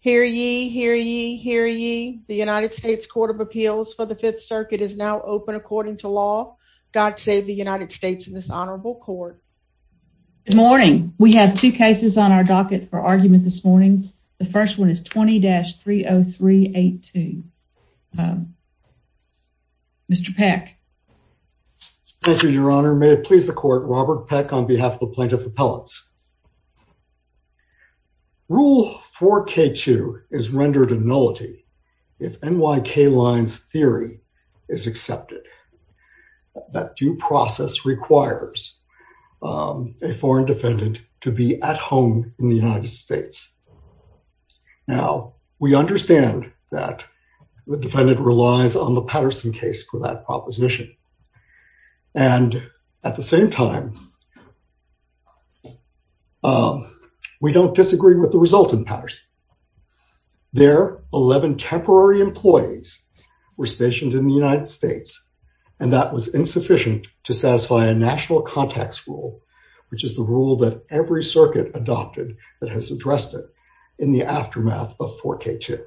Hear ye, hear ye, hear ye. The United States Court of Appeals for the Fifth Circuit is now open according to law. God save the United States in this honorable court. Good morning. We have two cases on our docket for argument this morning. The first one is 20-30382. Mr. Peck. Thank you, your honor. May it please the court, Robert Peck on behalf of the Plaintiff Appellants. Rule 4K2 is rendered a nullity if NYK line's theory is accepted. That due process requires a foreign defendant to be at home in the United States. Now, we understand that the defendant relies on the Patterson case for that proposition. And at the same time, we don't disagree with the result in Patterson. There, 11 temporary employees were stationed in the United States, and that was insufficient to satisfy a national context rule, which is the rule that every circuit adopted that has addressed it in the aftermath of 4K2.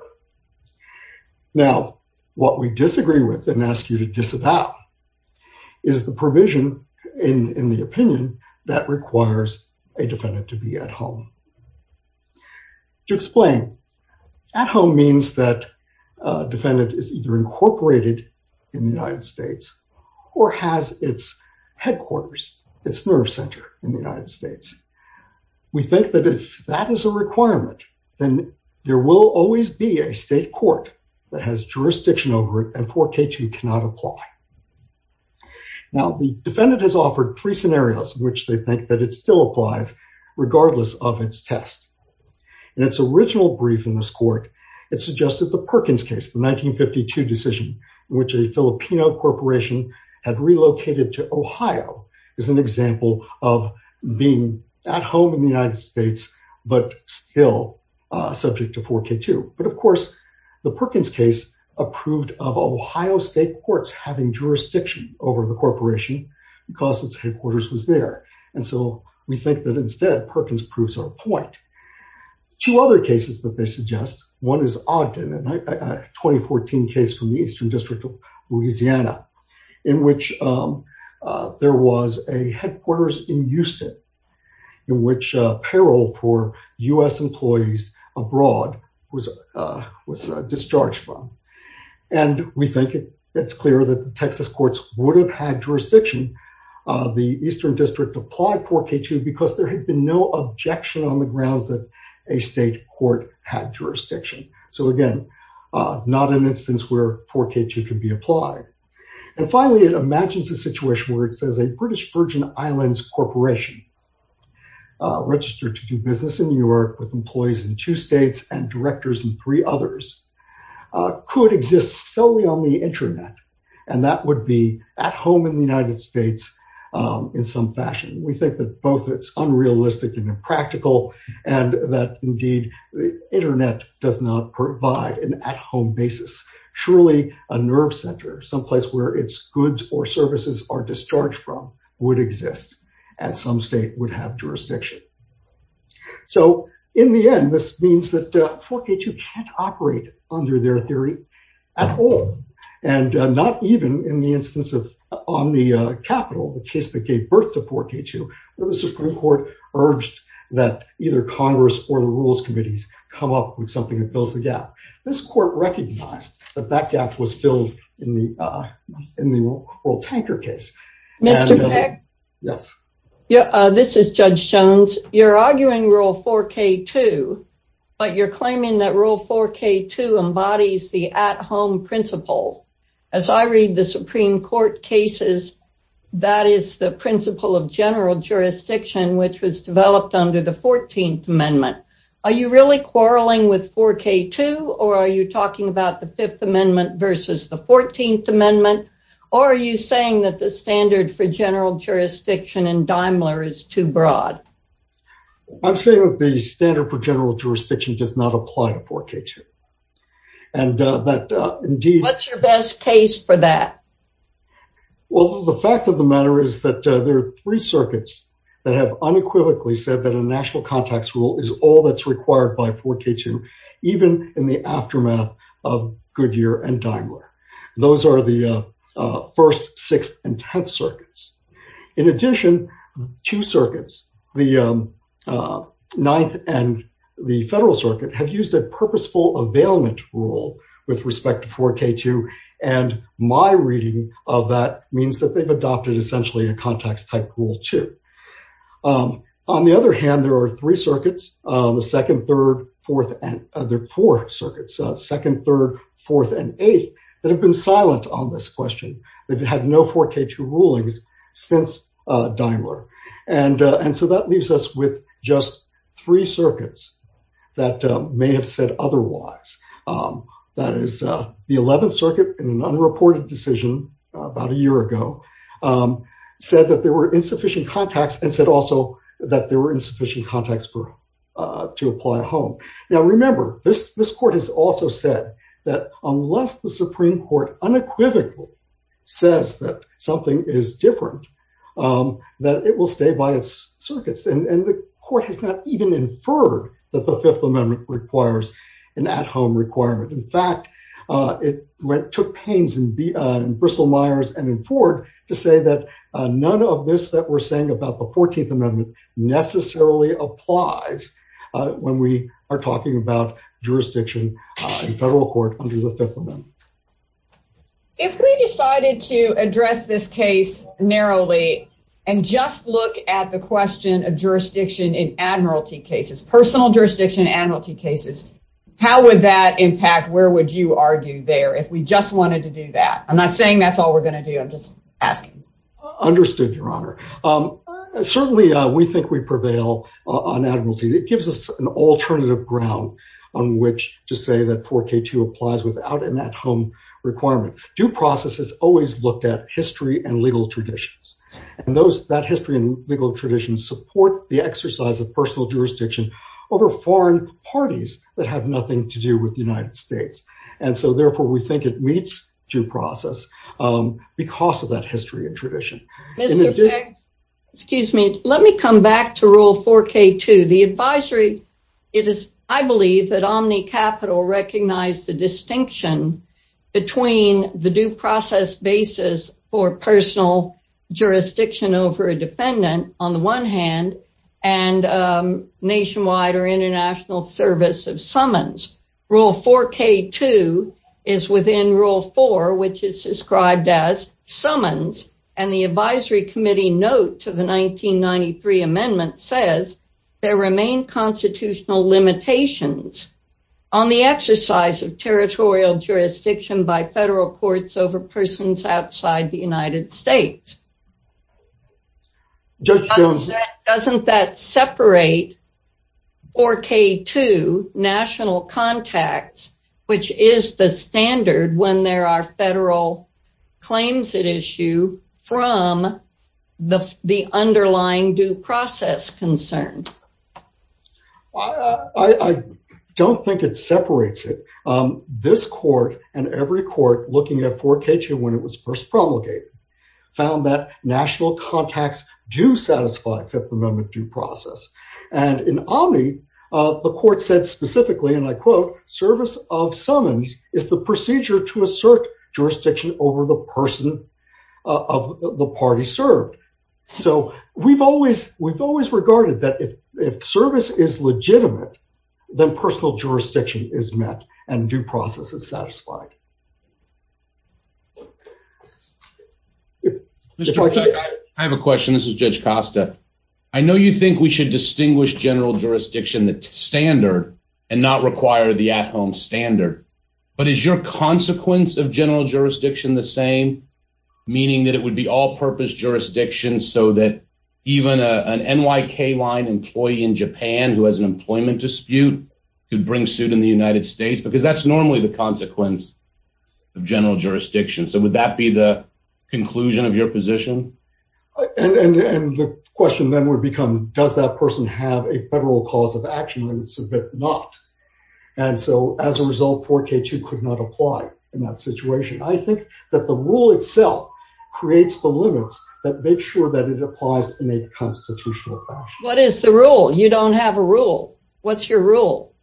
Now, what we disagree with and ask you to about is the provision in the opinion that requires a defendant to be at home. To explain, at home means that a defendant is either incorporated in the United States or has its headquarters, its nerve center in the United States. We think that if that is a requirement, then there will always be a state court that has to comply. Now, the defendant has offered three scenarios in which they think that it still applies, regardless of its test. In its original brief in this court, it suggested the Perkins case, the 1952 decision, in which a Filipino corporation had relocated to Ohio as an example of being at home in the United States, but still subject to 4K2. But of course, the Perkins case approved of Ohio state courts having jurisdiction over the corporation because its headquarters was there. And so we think that instead, Perkins proves our point. Two other cases that they suggest, one is Ogden, a 2014 case from the Eastern District of Louisiana, in which there was a headquarters in Houston, in which apparel for US employees abroad was discharged from. And we think it's clear that the Texas courts would have had jurisdiction. The Eastern District applied 4K2 because there had been no objection on the grounds that a state court had jurisdiction. So again, not an instance where 4K2 could be applied. And finally, it imagines a situation where it says a British Virgin Islands corporation registered to do business in New York with could exist solely on the internet, and that would be at home in the United States in some fashion. We think that both it's unrealistic and impractical, and that indeed, internet does not provide an at-home basis. Surely a nerve center, someplace where its goods or services are discharged from, would exist, and some state would have jurisdiction. So in the end, this means that 4K2 can't operate under their theory at all. And not even in the instance of on the Capitol, the case that gave birth to 4K2, where the Supreme Court urged that either Congress or the rules committees come up with something that fills the gap. This court recognized that that gap was filled in the World Tanker case. Mr. Pick? Yes. This is Judge Jones. You're arguing Rule 4K2, but you're claiming that Rule 4K2 embodies the at-home principle. As I read the Supreme Court cases, that is the principle of general jurisdiction, which was developed under the 14th Amendment. Are you really quarreling with 4K2, or are you saying that the standard for general jurisdiction in Daimler is too broad? I'm saying that the standard for general jurisdiction does not apply to 4K2. What's your best case for that? Well, the fact of the matter is that there are three circuits that have unequivocally said that a national contacts rule is all that's required by 4K2, even in the aftermath of Goodyear and 1st, 6th, and 10th circuits. In addition, two circuits, the 9th and the Federal Circuit, have used a purposeful availment rule with respect to 4K2, and my reading of that means that they've adopted essentially a contacts-type rule, too. On the other hand, there are three that have had no 4K2 rulings since Daimler. And so that leaves us with just three circuits that may have said otherwise. That is, the 11th Circuit, in an unreported decision about a year ago, said that there were insufficient contacts and said also that there were insufficient contacts to apply at home. Now remember, this court has also said that unless the Supreme Court unequivocally says that something is different, that it will stay by its circuits. And the court has not even inferred that the Fifth Amendment requires an at-home requirement. In fact, it took pains in Bristol-Myers and in Ford to say that none of this that we're saying about the 14th Amendment necessarily applies when we are talking about jurisdiction in federal court under the Fifth Amendment. If we decided to address this case narrowly and just look at the question of jurisdiction in admiralty cases, personal jurisdiction in admiralty cases, how would that impact, where would you argue there, if we just wanted to do that? I'm not saying that's we prevail on admiralty. It gives us an alternative ground on which to say that 4K2 applies without an at-home requirement. Due process has always looked at history and legal traditions. And that history and legal tradition support the exercise of personal jurisdiction over foreign parties that have nothing to do with the United States. And so therefore, we think it meets due process because of that history and tradition. Mr. Fick, let me come back to Rule 4K2. The advisory, I believe that OmniCapital recognized the distinction between the due process basis for personal jurisdiction over a defendant, on the one hand, and nationwide or international service of summons. Rule 4K2 is within Rule 4, which is described as summons, and the advisory committee note to the 1993 amendment says, there remain constitutional limitations on the exercise of territorial jurisdiction by federal courts over persons outside the United States. Doesn't that separate 4K2 national contacts, which is the standard when there are federal claims at issue from the underlying due process concern? I don't think it separates it. This court and every court looking at 4K2 when it was first And in Omni, the court said specifically, and I quote, service of summons is the procedure to assert jurisdiction over the person of the party served. So we've always regarded that if service is legitimate, then personal jurisdiction is met and due process is satisfied. I have a question. This is Judge Costa. I know you think we should distinguish general jurisdiction, the standard, and not require the at-home standard. But is your consequence of general jurisdiction the same? Meaning that it would be all-purpose jurisdiction so that even an NYK line employee in Japan who has an employment dispute could bring suit in the United States? Because that's normally the consequence. General jurisdiction. So would that be the conclusion of your position? And the question then would become, does that person have a federal cause of action? And if not, and so as a result, 4K2 could not apply in that situation. I think that the rule itself creates the limits that make sure that it applies in a constitutional fashion. What is the rule? You don't have a rule. What's your rule?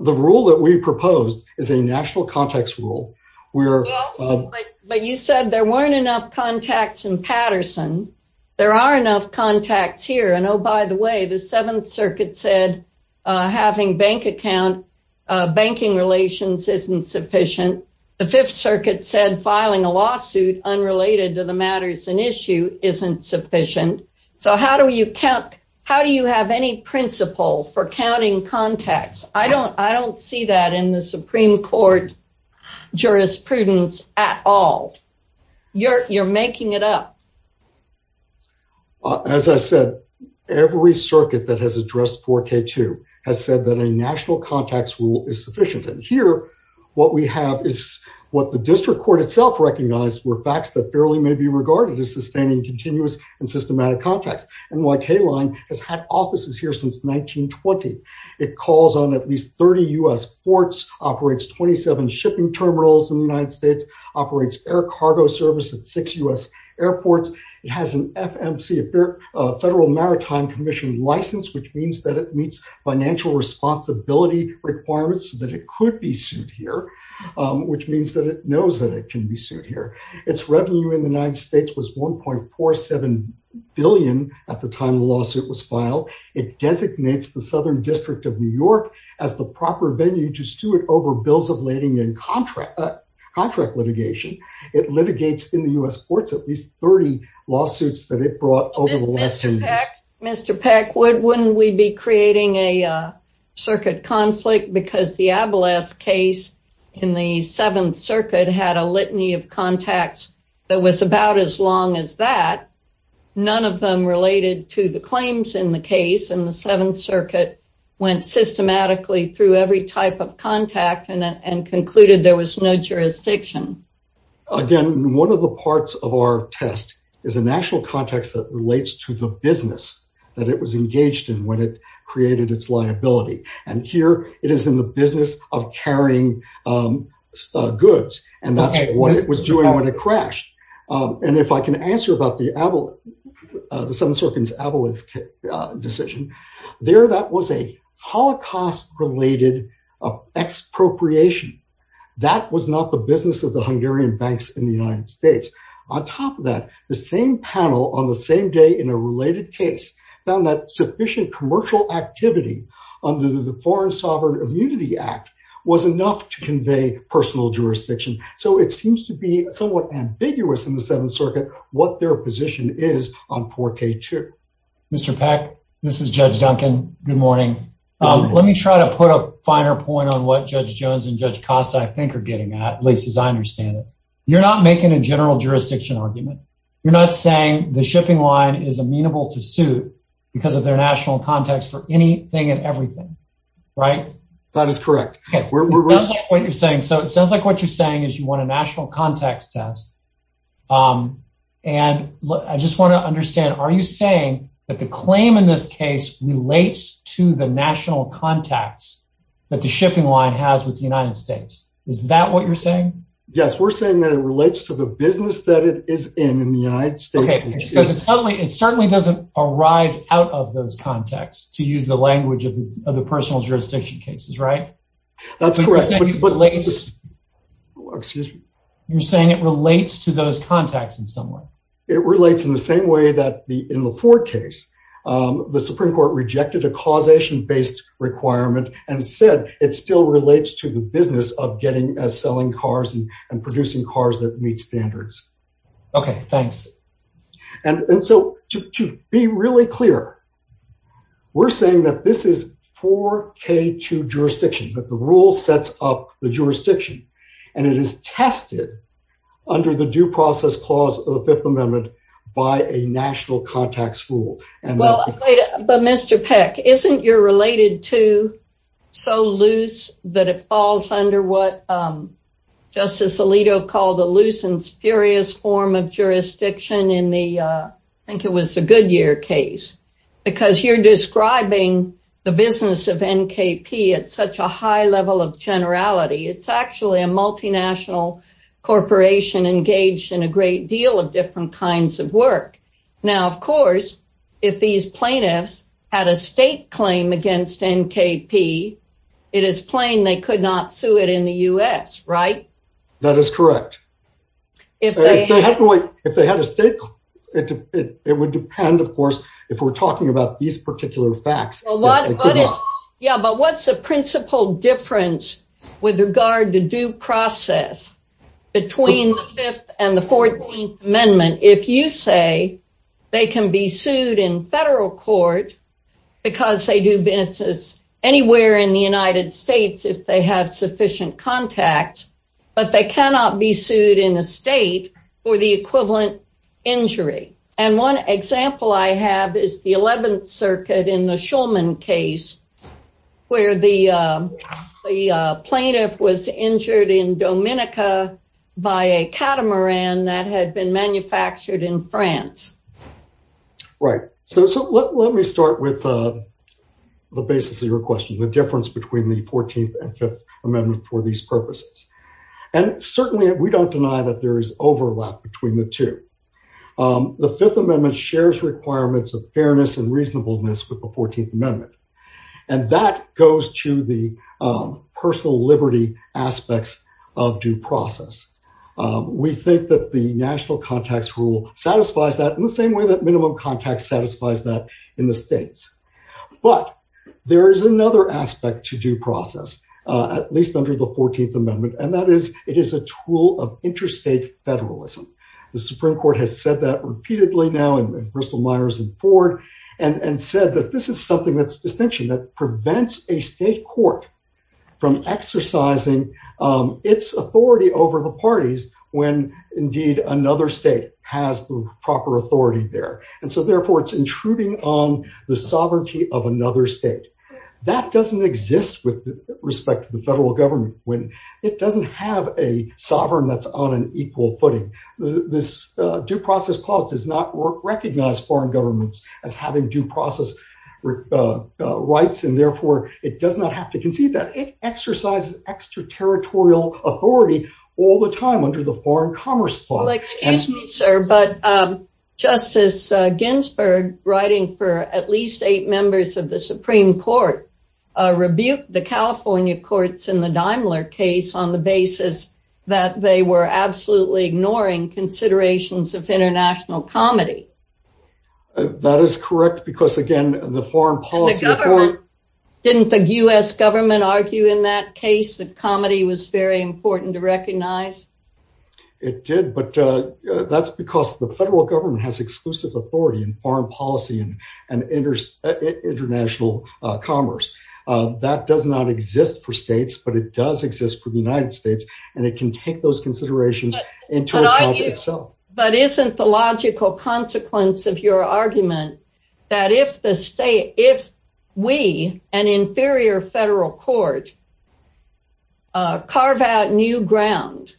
The rule that we proposed is a national context rule. But you said there weren't enough contacts in Patterson. There are enough contacts here. And, oh, by the way, the Seventh Circuit said having bank account, banking relations isn't sufficient. The Fifth Circuit said filing a lawsuit unrelated to the matters in issue isn't sufficient. So how do you count? How do you have any principle for counting contacts? I don't see that in the Supreme Court jurisprudence at all. You're making it up. As I said, every circuit that has addressed 4K2 has said that a national context rule is sufficient. And here what we have is what the district court itself recognized were facts that barely may be regarded as sustaining continuous and systematic contacts. NYK Line has had offices here since 1920. It calls on at least 30 U.S. ports, operates 27 shipping terminals in the United States, operates air cargo service at six U.S. airports. It has an FMC, a Federal Maritime Commission license, which means that it meets financial responsibility requirements that it could be sued here, which means that it knows that it can be sued here. Its revenue in the United States was $1.47 billion at the time the lawsuit was filed. It designates the Southern District of New York as the proper venue to sue it over bills of lading and contract litigation. It litigates in the U.S. courts at least 30 lawsuits that it brought over the last 30 years. Mr. Peck, wouldn't we be creating a circuit conflict because the Abolas case in the Seventh Circuit had a litany of contacts that was about as long as that? None of them related to the claims in the case, and the Seventh Circuit went systematically through every type of contact and concluded there was no jurisdiction. Again, one of the parts of our test is a national context that relates to the business that it was engaged in when it created its liability, and here it is in the business of carrying goods, and that's what it was doing when it crashed. And if I can answer about the Abolas, the Seventh Circuit's Abolas decision, there that was a Holocaust-related expropriation. That was not the business of the Hungarian banks in the same panel on the same day in a related case found that sufficient commercial activity under the Foreign Sovereign Immunity Act was enough to convey personal jurisdiction. So it seems to be somewhat ambiguous in the Seventh Circuit what their position is on 4k2. Mr. Peck, this is Judge Duncan. Good morning. Let me try to put a finer point on what Judge Jones and Judge Costa, I think, are getting at, at least as I understand it. You're not making a general jurisdiction argument. You're not saying the shipping line is amenable to suit because of their national context for anything and everything, right? That is correct. Okay, what you're saying, so it sounds like what you're saying is you want a national context test, and I just want to understand, are you saying that the claim in this case relates to the national context that the shipping line has with the United States? Is that what you're saying? Yes, we're saying that it relates to the business that it is in in the United States. Okay, because it certainly doesn't arise out of those contexts, to use the language of the personal jurisdiction cases, right? That's correct. You're saying it relates to those contacts in some way. It relates in the same way that in the Ford case, the Supreme Court rejected a causation-based requirement and said it still relates to the business of getting as selling cars and producing cars that meet standards. Okay, thanks. And so to be really clear, we're saying that this is 4k2 jurisdiction, that the rule sets up the jurisdiction, and it is tested under the due process clause of the Fifth Amendment by a national context rule. Well, but Mr. Peck, isn't your related to so loose that it falls under what Justice Alito called a loose and spurious form of jurisdiction in the, I think it was the Goodyear case, because you're describing the business of NKP at such a high level of generality. It's actually a multinational corporation engaged in a great deal of different kinds of work. Now, of course, if these plaintiffs had a state claim against NKP, it is plain they could not sue it in the U.S., right? That is correct. If they had a state, it would depend, of course, if we're talking about these between the Fifth and the Fourteenth Amendment, if you say they can be sued in federal court because they do business anywhere in the United States if they have sufficient contact, but they cannot be sued in a state for the equivalent injury. And one example I have is the by a catamaran that had been manufactured in France. Right. So let me start with the basis of your question, the difference between the Fourteenth and Fifth Amendment for these purposes. And certainly we don't deny that there is overlap between the two. The Fifth Amendment shares requirements of fairness and reasonableness with the Fourteenth Amendment. And that goes to the personal liberty aspects of due process. We think that the national contacts rule satisfies that in the same way that minimum contacts satisfies that in the states. But there is another aspect to due process, at least under the Fourteenth Amendment, and that is it is a tool of interstate federalism. The Supreme Court has said that repeatedly now in Bristol-Myers and Ford and said that this is something that's distinction that prevents a state court from exercising its authority over the parties when, indeed, another state has the proper authority there. And so therefore, it's intruding on the sovereignty of another state. That doesn't exist with respect to the this due process clause does not recognize foreign governments as having due process rights, and therefore it does not have to concede that it exercises extraterritorial authority all the time under the Foreign Commerce Clause. Well, excuse me, sir, but Justice Ginsburg, writing for at least eight members of the Supreme Court, rebuked the California courts in the Daimler case on the basis that they were absolutely ignoring considerations of international comity. That is correct, because, again, the foreign policy didn't the U.S. government argue in that case that comity was very important to recognize? It did, but that's because the federal government has exclusive authority in foreign policy and international commerce. That does not exist for states, but it does exist for the United States, and it can take those considerations into account itself. But isn't the logical consequence of your argument that if we, an inferior federal court, carve out new ground,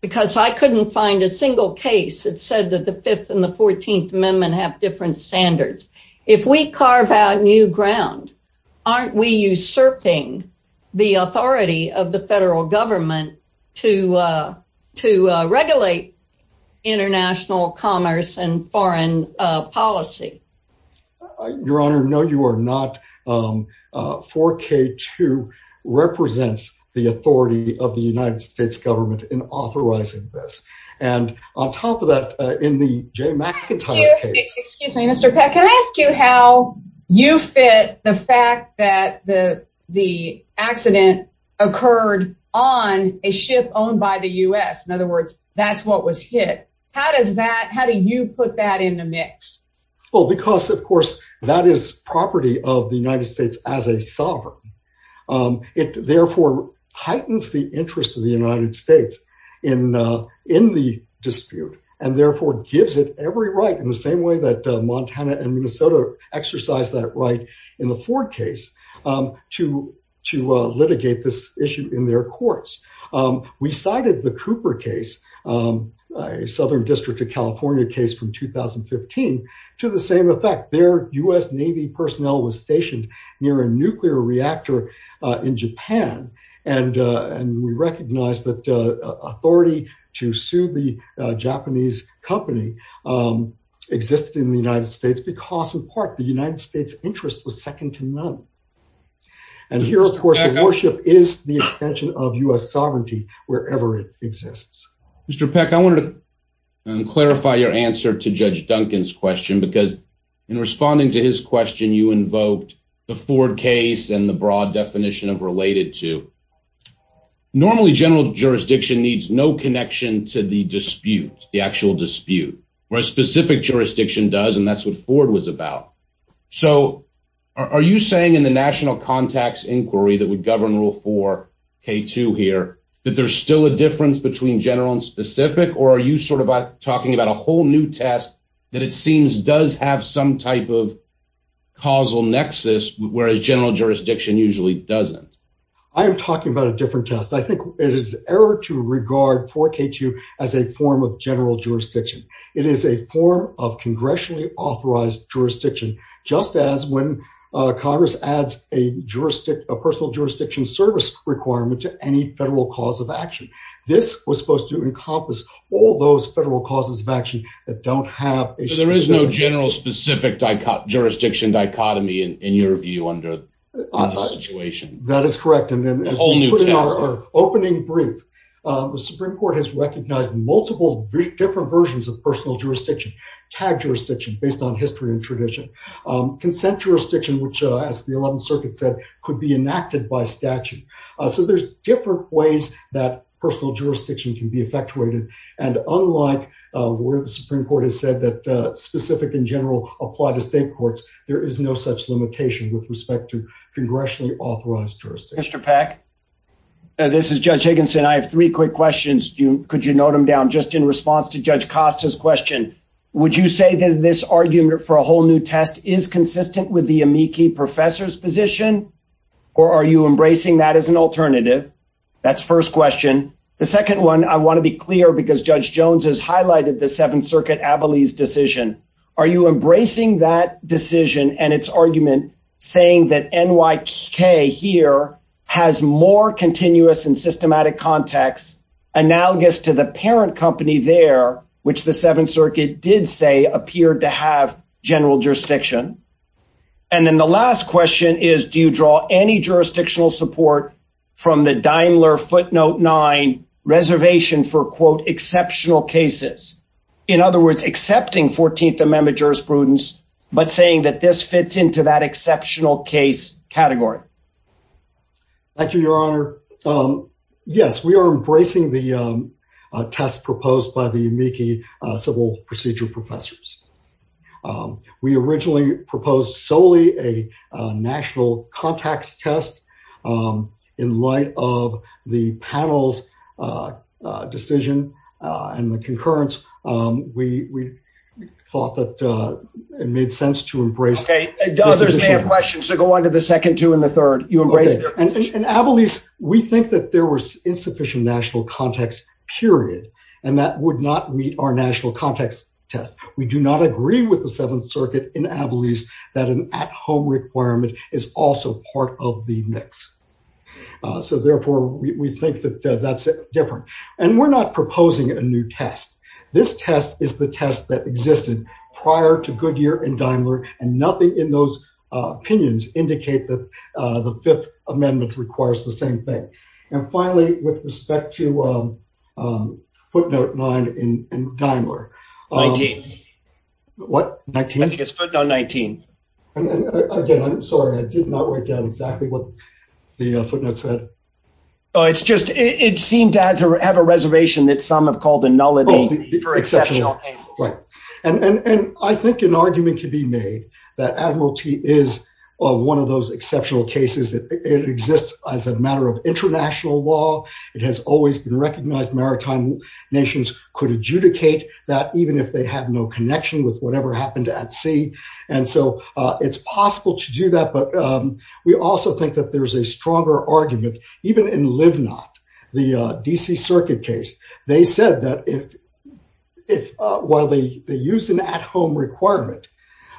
because I couldn't find a single case that said that the Fifth and the Fourteenth Amendment have different standards. If we carve out new ground, aren't we usurping the authority of the federal government to regulate international commerce and foreign policy? Your Honor, no, you are not. 4K2 represents the authority of the United States government in authorizing this. And on top of that, in the Jay McIntyre case. Excuse me, Mr. Peck. Can I ask you how you fit the fact that the accident occurred on a ship owned by the U.S.? In other words, that's what was hit. How do you put that in the mix? Well, because, of course, that is property of the United States as a sovereign. It, therefore, heightens the interest of the United States in the dispute and, therefore, gives it every right in the same way that Montana and Minnesota exercised that right in the Ford case to litigate this issue in their courts. We cited the Cooper case, a Southern District of California case from 2015, to the same effect. Their U.S. Navy personnel was stationed near a nuclear reactor in Japan. And we recognize that authority to sue the Japanese company existed in the United States because, in part, the United States' interest was second to none. And here, of course, the warship is the extension of U.S. sovereignty wherever it exists. Mr. Peck, I wanted to clarify your answer to Judge Duncan's question because in responding to his question, you invoked the Ford case and the broad definition of related to. Normally, general jurisdiction needs no connection to the dispute, the actual dispute, whereas specific jurisdiction does, and that's what Ford was about. So, are you saying in the National Contacts Inquiry that would govern Rule 4K2 here that there's still a difference between general and specific? Or are you sort of talking about a that it seems does have some type of causal nexus, whereas general jurisdiction usually doesn't? I am talking about a different test. I think it is error to regard 4K2 as a form of general jurisdiction. It is a form of congressionally authorized jurisdiction, just as when Congress adds a personal jurisdiction service requirement to any federal cause of action. This was supposed to encompass all those federal causes of action that don't have a... So, there is no general specific jurisdiction dichotomy in your view under the situation? That is correct. And then opening brief, the Supreme Court has recognized multiple different versions of personal jurisdiction, tag jurisdiction based on history and tradition, consent jurisdiction, which, as the 11th Circuit said, could be enacted by statute. So, there's different ways that personal jurisdiction can be effectuated. And unlike where the Supreme Court has said that specific in general apply to state courts, there is no such limitation with respect to congressionally authorized jurisdiction. Mr. Peck, this is Judge Higginson. I have three quick questions. Could you note them down? Just in response to Judge Costa's question, would you say that this argument for a whole new test is consistent with the amici professor's position? Or are you embracing that as an alternative? That's first question. The second one, I want to be clear because Judge Jones has highlighted the 7th Circuit Abilie's decision. Are you embracing that decision and its argument saying that NYK here has more continuous and systematic context analogous to the parent company there, which the 7th Circuit did say appeared to have general jurisdiction? And then the last question is, do you draw any jurisdictional support from the Daimler footnote 9 reservation for quote exceptional cases? In other words, accepting 14th Amendment jurisprudence, but saying that this fits into that exceptional case category. Thank you, Your Honor. Yes, we proposed solely a national context test in light of the panel's decision and the concurrence. We thought that it made sense to embrace... Okay, others may have questions, so go on to the second two and the third. And Abilie's, we think that there was insufficient national context period and that would not meet our national context test. We do not agree with the 7th Circuit that an at-home requirement is also part of the mix. So therefore, we think that that's different. And we're not proposing a new test. This test is the test that existed prior to Goodyear and Daimler and nothing in those opinions indicate that the 5th Amendment requires the same thing. And finally, with respect to footnote 9 in Daimler... 19. What? 19? I think it's footnote 19. Again, I'm sorry. I did not write down exactly what the footnote said. Oh, it's just, it seemed to have a reservation that some have called a nullity for exceptional cases. Right. And I think an argument could be made that Admiralty is one of those exceptional cases that exists as a matter of international law. It has always been recognized maritime nations could adjudicate that even if they have no connection with whatever happened at sea. And so it's possible to do that. But we also think that there's a stronger argument, even in Livnot, the D.C. Circuit case. They said that while they used an at-home requirement,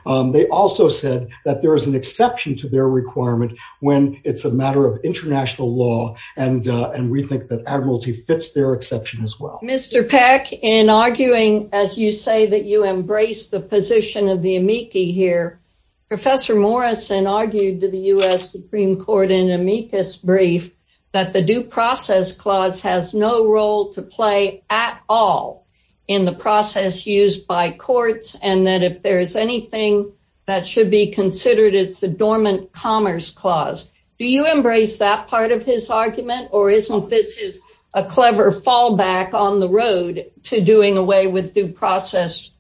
they also said that there is an exception to their requirement when it's a matter of international law. And we think that Admiralty fits their exception as well. Mr. Peck, in arguing, as you say, that you embrace the position of the amici here, Professor Morrison argued to the U.S. Supreme Court in amicus brief that the due process clause has no role to play at all in the process used by courts, and that if there is anything that should be considered, it's a dormant commerce clause. Do you embrace that part of his argument? Or isn't this a clever fallback on the road to doing away with due process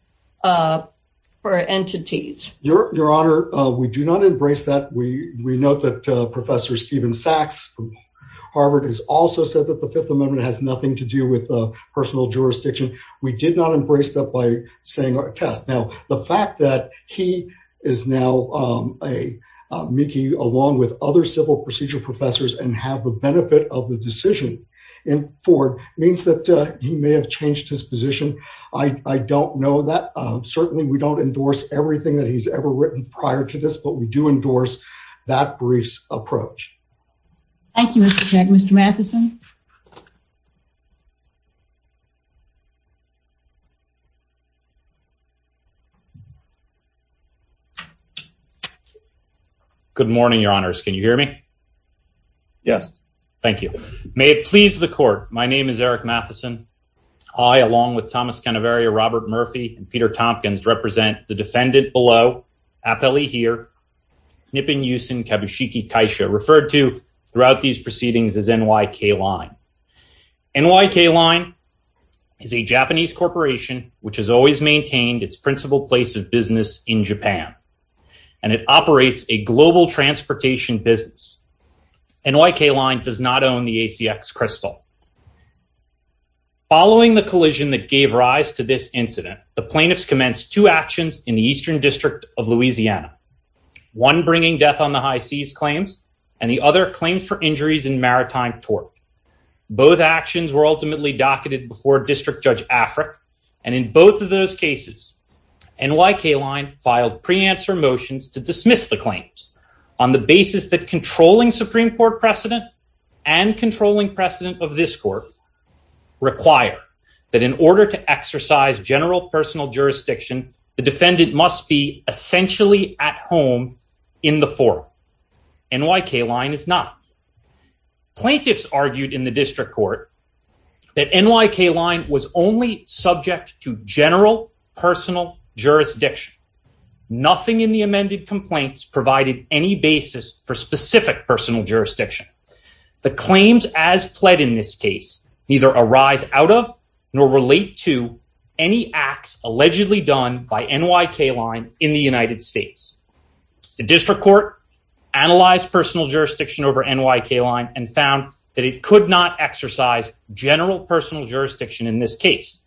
for entities? Your Honor, we do not embrace that. We note that Professor Stephen Sachs Harvard has also said that the Fifth Amendment has nothing to do with personal jurisdiction. We did not embrace that by saying our test. Now, the fact that he is now amici along with other civil procedure professors and have the benefit of the decision in Ford means that he may have changed his position. I don't know that. Certainly we don't endorse everything that he's ever written prior to this, but we do endorse that brief's approach. Thank you, Mr. Cenk. Mr. Matheson? Good morning, Your Honors. Can you hear me? Yes. Thank you. May it please the Court, my name is Eric Matheson. I, along with Thomas Canaveria, Robert Murphy, and Peter Tompkins, represent the defendant below, appellee here, Nippon Yusin Kabushiki Kaisha, referred to throughout these proceedings as NYK Line. NYK Line is a Japanese corporation which has always maintained its principal place of business in Japan, and it operates a global transportation business. NYK Line does not own the ACX Crystal. Following the collision that gave rise to this incident, the plaintiffs commenced two actions in the Eastern District of Louisiana, one bringing death on the high seas claims, and the other claims for injuries in maritime tort. Both actions were ultimately docketed before District Judge Afric, and in both of those cases, NYK Line filed pre-answer motions to dismiss the claims on the basis that controlling Supreme Court precedent and controlling precedent of this court require that in order to exercise general personal jurisdiction, the defendant must be essentially at home in the forum. NYK Line is not. Plaintiffs argued in the District Court that NYK Line was only subject to general personal jurisdiction. Nothing in the amended complaints provided any basis for specific personal jurisdiction. The claims as pled in this case neither arise out of nor relate to any acts allegedly done by NYK Line in the United States. The District Court analyzed personal jurisdiction over NYK Line and found that it could not exercise general personal jurisdiction in this case.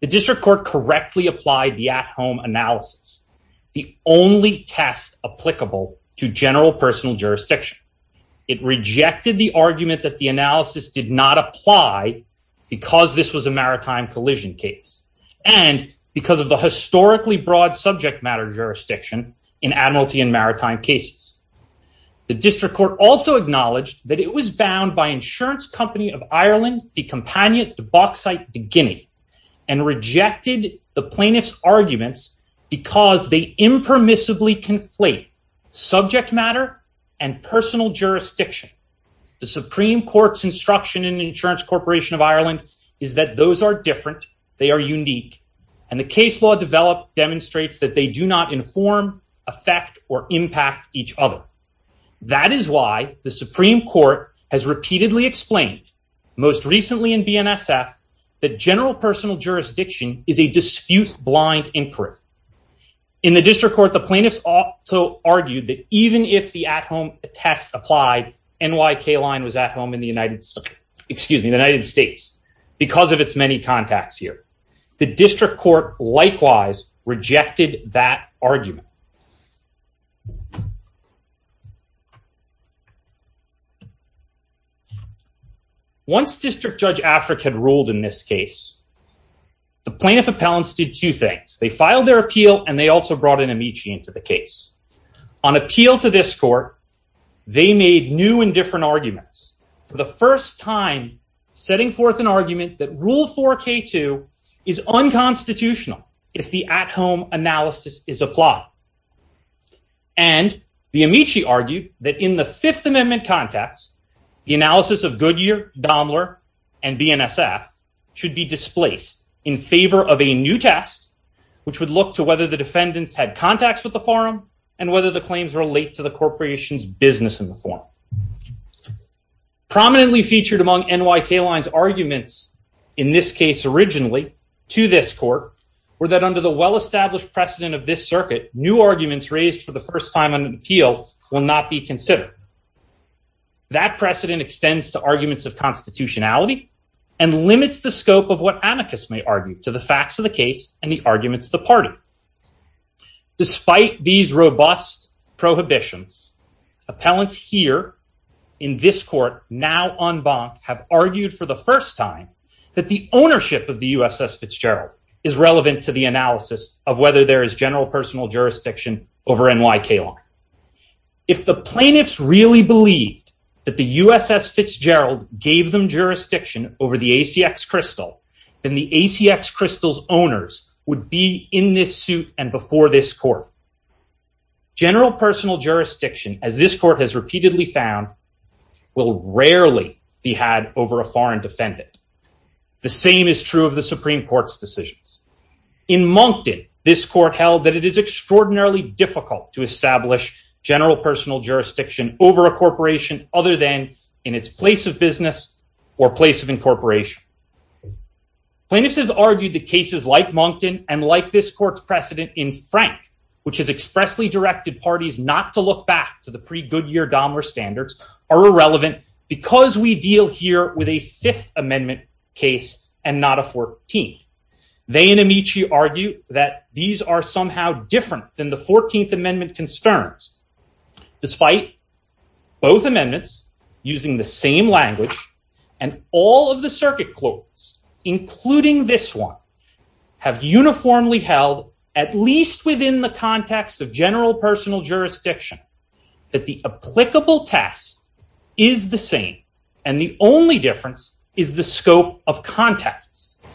The District Court correctly applied the at-home analysis, the only test applicable to general jurisdiction. It rejected the argument that the analysis did not apply because this was a maritime collision case, and because of the historically broad subject matter jurisdiction in admiralty and maritime cases. The District Court also acknowledged that it was bound by insurance company of Ireland, the companion, the box site, the Guinea, and rejected the plaintiff's arguments because they impermissibly conflate subject matter and personal jurisdiction. The Supreme Court's instruction in insurance corporation of Ireland is that those are different, they are unique, and the case law developed demonstrates that they do not inform, affect, or impact each other. That is why the Supreme Court has repeatedly explained, most recently in BNSF, that general jurisdiction is a dispute-blind inquiry. In the District Court, the plaintiffs also argued that even if the at-home test applied, NYK Line was at home in the United States because of its many contacts here. The District Court likewise rejected that argument. Once District Judge Afric had ruled in this case, the plaintiff appellants did two things. They filed their appeal, and they also brought in Amici into the case. On appeal to this court, they made new and different arguments. For the first time, setting forth an argument that Rule 4k2 is unconstitutional if the at-home analysis is applied. And the Amici argued that in the Fifth Amendment context, the analysis of Goodyear, Daimler, and BNSF should be displaced in favor of a new test, which would look to whether the defendants had contacts with the forum, and whether the claims relate to the corporation's business in the forum. Prominently featured among NYK Line's arguments, in this case originally, to this court, were that under the well-established precedent of this circuit, new arguments raised for the first time on appeal will not be considered. That precedent extends to arguments of constitutionality and limits the scope of what Amicus may argue to the facts of the case and the arguments of the party. Despite these robust prohibitions, appellants here in this court now en banc have argued for the first time that the ownership of the USS Fitzgerald is relevant to the analysis of whether there is general personal jurisdiction over NYK Line. If the plaintiffs really believed that the USS Fitzgerald gave them jurisdiction over the ACX Crystal, then the ACX Crystal's owners would be in this suit and before this court. General personal jurisdiction, as this court has repeatedly found, will rarely be had over a foreign defendant. The same is true of that it is extraordinarily difficult to establish general personal jurisdiction over a corporation other than in its place of business or place of incorporation. Plaintiffs have argued that cases like Moncton and like this court's precedent in Frank, which has expressly directed parties not to look back to the pre-Goodyear-Dahmer standards, are irrelevant because we deal here with a Fifth Amendment case and not a 14th. They and Amici argue that these are somehow different than the 14th Amendment concerns. Despite both amendments using the same language and all of the circuit clauses, including this one, have uniformly held, at least within the context of general personal jurisdiction, that the applicable test is the same and the only difference is the scope of context.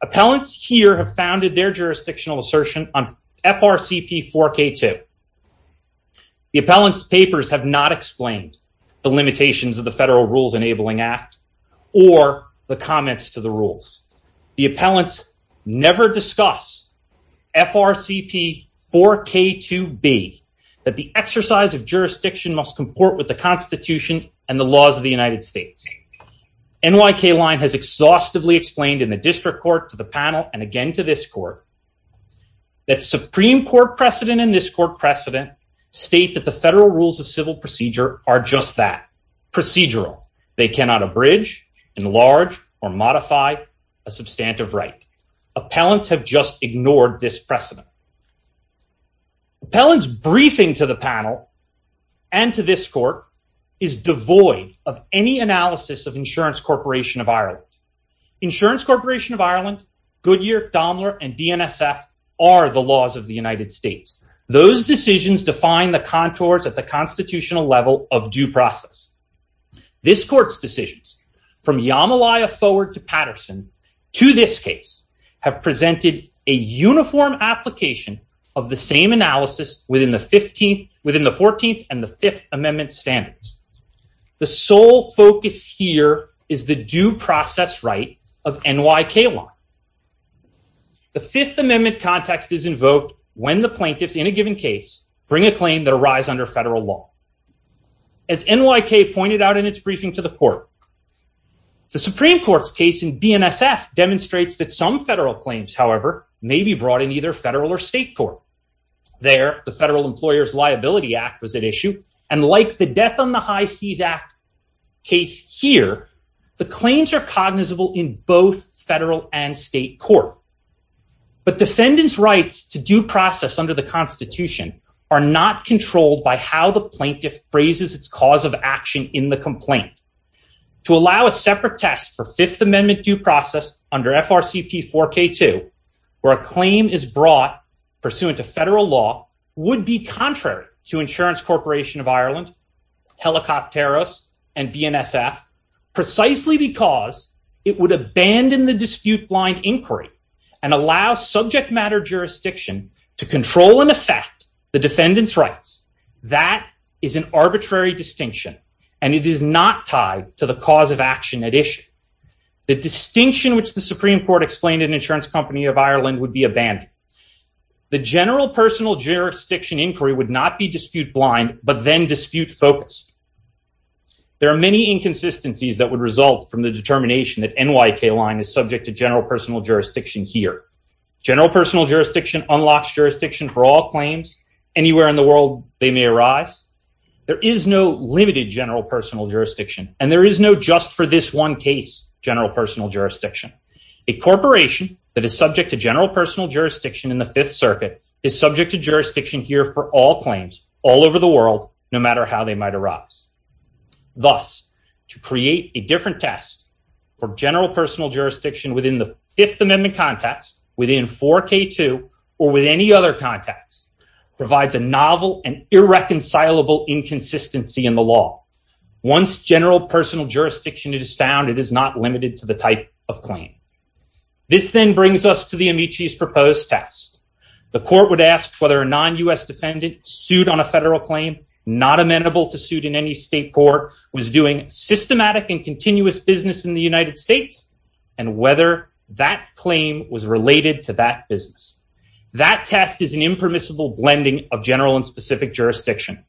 Appellants here have founded their jurisdictional assertion on FRCP 4k2. The appellant's papers have not explained the limitations of the Federal Rules Enabling Act or the comments to the rules. The appellants never discuss FRCP 4k2b that the exercise of jurisdiction must comport with the Constitution and the laws of the United States. NYK Line has exhaustively explained in the district court, to the panel, and again to this court, that Supreme Court precedent and this court precedent state that the Federal Rules of Civil Procedure are just that, procedural. They cannot abridge, enlarge, or modify a substantive right. Appellants have just ignored this precedent. Appellant's briefing to the panel and to this court is devoid of any analysis of Insurance Corporation of Ireland. Insurance Corporation of Ireland, Goodyear, Daimler, and DNSF are the laws of the United States. Those decisions define the contours at the constitutional level of due process. This court's decisions, from Yamalaya forward to Patterson, to this case, have presented a uniform application of the same analysis within the 14th and the Fifth Amendment standards. The sole focus here is the due process right of NYK Line. The Fifth Amendment context is invoked when the plaintiffs in a given case bring a claim that arise under federal law. As NYK pointed out in its briefing to the court, the Supreme Court's case in DNSF demonstrates that some federal claims, however, may be brought in either federal or state court. There, the Federal Employers Liability Act was at issue, and like the Death on the High Seas Act case here, the claims are cognizable in both federal and state court. But defendants' rights to due process under the Constitution are not controlled by how the plaintiff phrases its cause of action in the complaint. To allow a separate test for Fifth Amendment due process under FRCP 4K2, where a claim is brought pursuant to federal law, would be contrary to Insurance Corporation of Ireland, Helicopteros, and BNSF, precisely because it would abandon the dispute-blind inquiry and allow subject matter jurisdiction to control and affect the defendant's rights. That is an arbitrary distinction, and it is not tied to the cause of action at issue. The distinction which the Supreme Court explained in Insurance Company of Ireland would be abandoned. The general personal jurisdiction inquiry would not be dispute-blind, but then dispute-focused. There are many inconsistencies that would result from the determination that NYK line is subject to general personal jurisdiction here. General personal jurisdiction unlocks jurisdiction for all claims, anywhere in the world they may arise. There is no limited general personal jurisdiction, and there is no just-for-this-one-case general personal jurisdiction. A corporation that is subject to general personal jurisdiction in the Fifth Circuit is subject to jurisdiction here for all claims, all over the world, no matter how they might arise. Thus, to create a different test for general personal jurisdiction within the Fifth Amendment context, within 4K2, or with any other context, provides a novel and irreconcilable inconsistency in the law. Once general personal jurisdiction is found, it is not limited to the type of claim. This then brings us to the Amici's proposed test. The court would ask whether a non-U.S. defendant sued on a federal claim, not amenable to suit in any state court, was doing systematic and continuous business in the United That test is an impermissible blending of general and specific jurisdiction.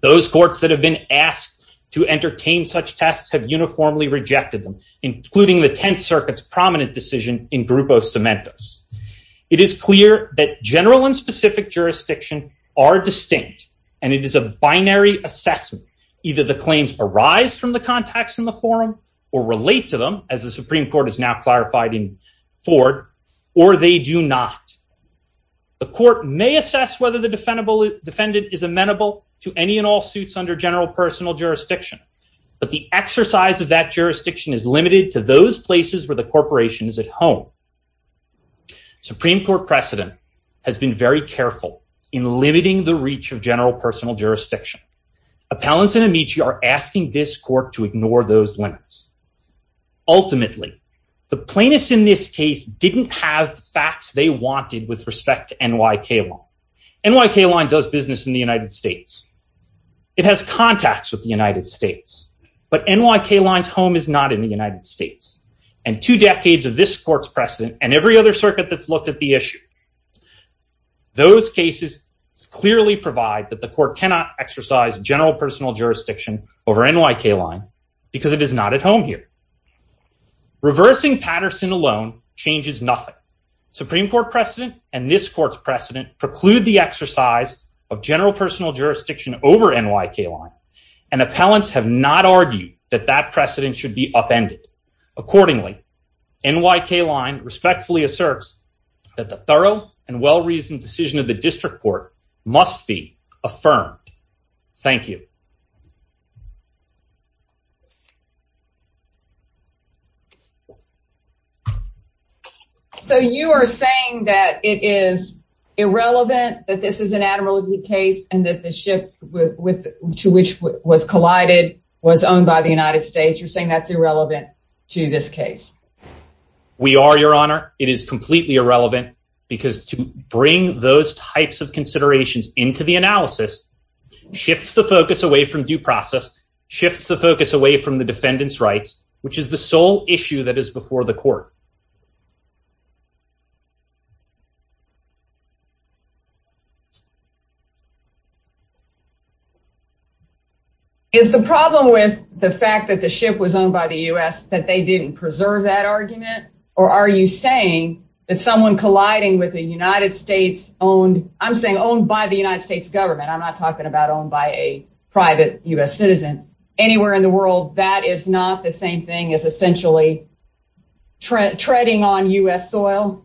Those courts that have been asked to entertain such tests have uniformly rejected them, including the Tenth Circuit's prominent decision in Grupo Cementos. It is clear that general and specific jurisdiction are distinct, and it is a binary assessment. Either the claims arise from the contacts in the forum or relate to them, as the Supreme Court has now clarified in Ford, or they do not. The court may assess whether the defendant is amenable to any and all suits under general personal jurisdiction, but the exercise of that jurisdiction is limited to those places where the corporation is at home. Supreme Court precedent has been very careful in limiting the reach of general personal jurisdiction. Appellants in Amici are asking this court to ignore those limits. Ultimately, the plaintiffs in this case didn't have the facts they wanted with respect to NYK Line. NYK Line does business in the United States. It has contacts with the United States, but NYK Line's home is not in the United States, and two decades of this court's precedent and every other circuit that's looked at the issue, those cases clearly provide that the court cannot exercise general personal jurisdiction over NYK Line because it is not at home here. Reversing Patterson alone changes nothing. Supreme Court precedent and this court's precedent preclude the exercise of general personal jurisdiction over NYK Line, and appellants have not argued that that precedent should be upended. Accordingly, NYK Line respectfully asserts that the thorough and well-reasoned decision of the district court must be affirmed. Thank you. So you are saying that it is irrelevant that this is an admiralty case and that the ship to which was collided was owned by the United States. You're saying that's irrelevant to this case? We are, Your Honor. It is completely irrelevant because to bring those types of considerations into the analysis shifts the focus away from due process, shifts the focus away from the defendant's rights, which is the sole issue that is before the court. Is the problem with the fact that the ship was owned by the U.S. that they didn't preserve that argument? Or are you saying that someone colliding with a United States owned, I'm saying owned by the United States government, I'm not talking about owned by a private U.S. citizen anywhere in the world, that is not the same thing as essentially treading on U.S. soil?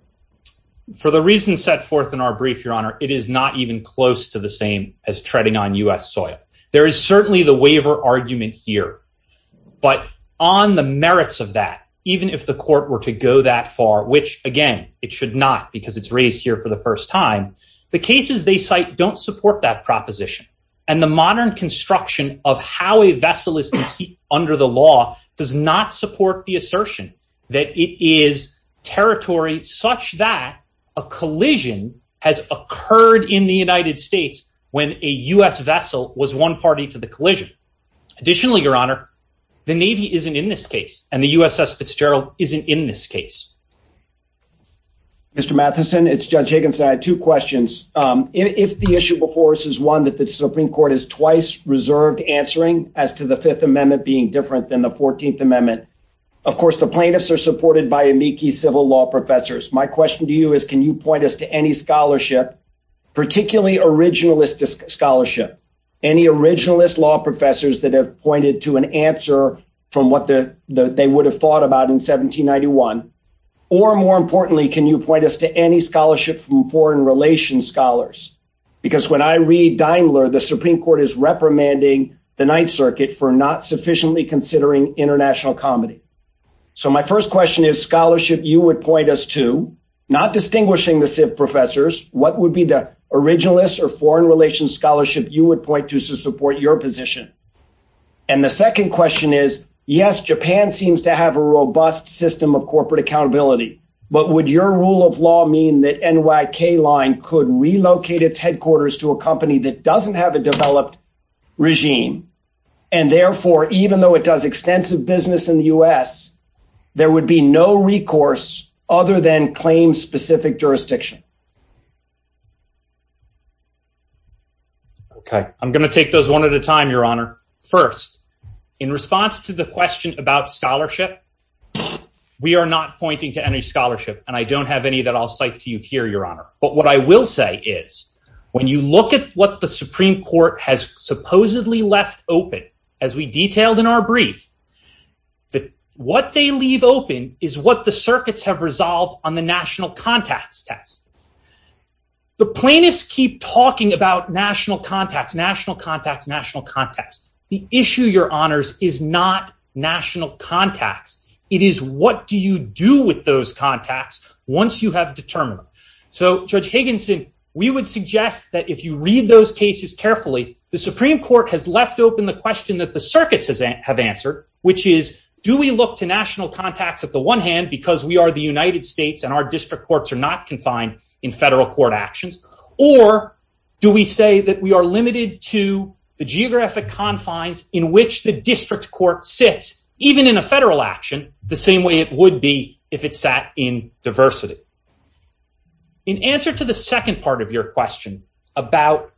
For the reasons set forth in our brief, Your Honor, it is not even close to the same as treading on U.S. soil. There is certainly the waiver argument here, but on the even if the court were to go that far, which again, it should not because it's raised here for the first time, the cases they cite don't support that proposition. And the modern construction of how a vessel is under the law does not support the assertion that it is territory such that a collision has occurred in the United States when a U.S. vessel was one party to the collision. Additionally, Your Honor, the Navy isn't in this case, and the USS Fitzgerald isn't in this case. Mr. Matheson, it's Judge Higginson. I had two questions. If the issue before us is one that the Supreme Court is twice reserved answering as to the Fifth Amendment being different than the Fourteenth Amendment, of course, the plaintiffs are supported by amici civil law professors. My question to you is, can you point us to any scholarship, particularly originalist scholarship, any originalist law professors that have pointed to an answer from what they would have thought about in 1791? Or more importantly, can you point us to any scholarship from foreign relations scholars? Because when I read Daimler, the Supreme Court is reprimanding the Ninth Circuit for not sufficiently considering international comedy. So my first question is scholarship you would point us to, not distinguishing the professors, what would be the foreign relations scholarship you would point to to support your position? And the second question is, yes, Japan seems to have a robust system of corporate accountability, but would your rule of law mean that NYK Line could relocate its headquarters to a company that doesn't have a developed regime? And therefore, even though it does extensive business in the U.S., there would be no recourse other than claim-specific jurisdiction. Okay, I'm going to take those one at a time, Your Honor. First, in response to the question about scholarship, we are not pointing to any scholarship, and I don't have any that I'll cite to you here, Your Honor. But what I will say is, when you look at what the Supreme Court has is what the circuits have resolved on the national contacts test. The plaintiffs keep talking about national contacts, national contacts, national contacts. The issue, Your Honors, is not national contacts. It is what do you do with those contacts once you have determined them. So, Judge Higginson, we would suggest that if you read those cases carefully, the Supreme Court has left open the question that the circuits have answered, which is, do we look to national contacts at the one hand because we are the United States and our district courts are not confined in federal court actions, or do we say that we are limited to the geographic confines in which the district court sits, even in a federal action, the same way it would be if it sat in diversity? In answer to the second part of your question about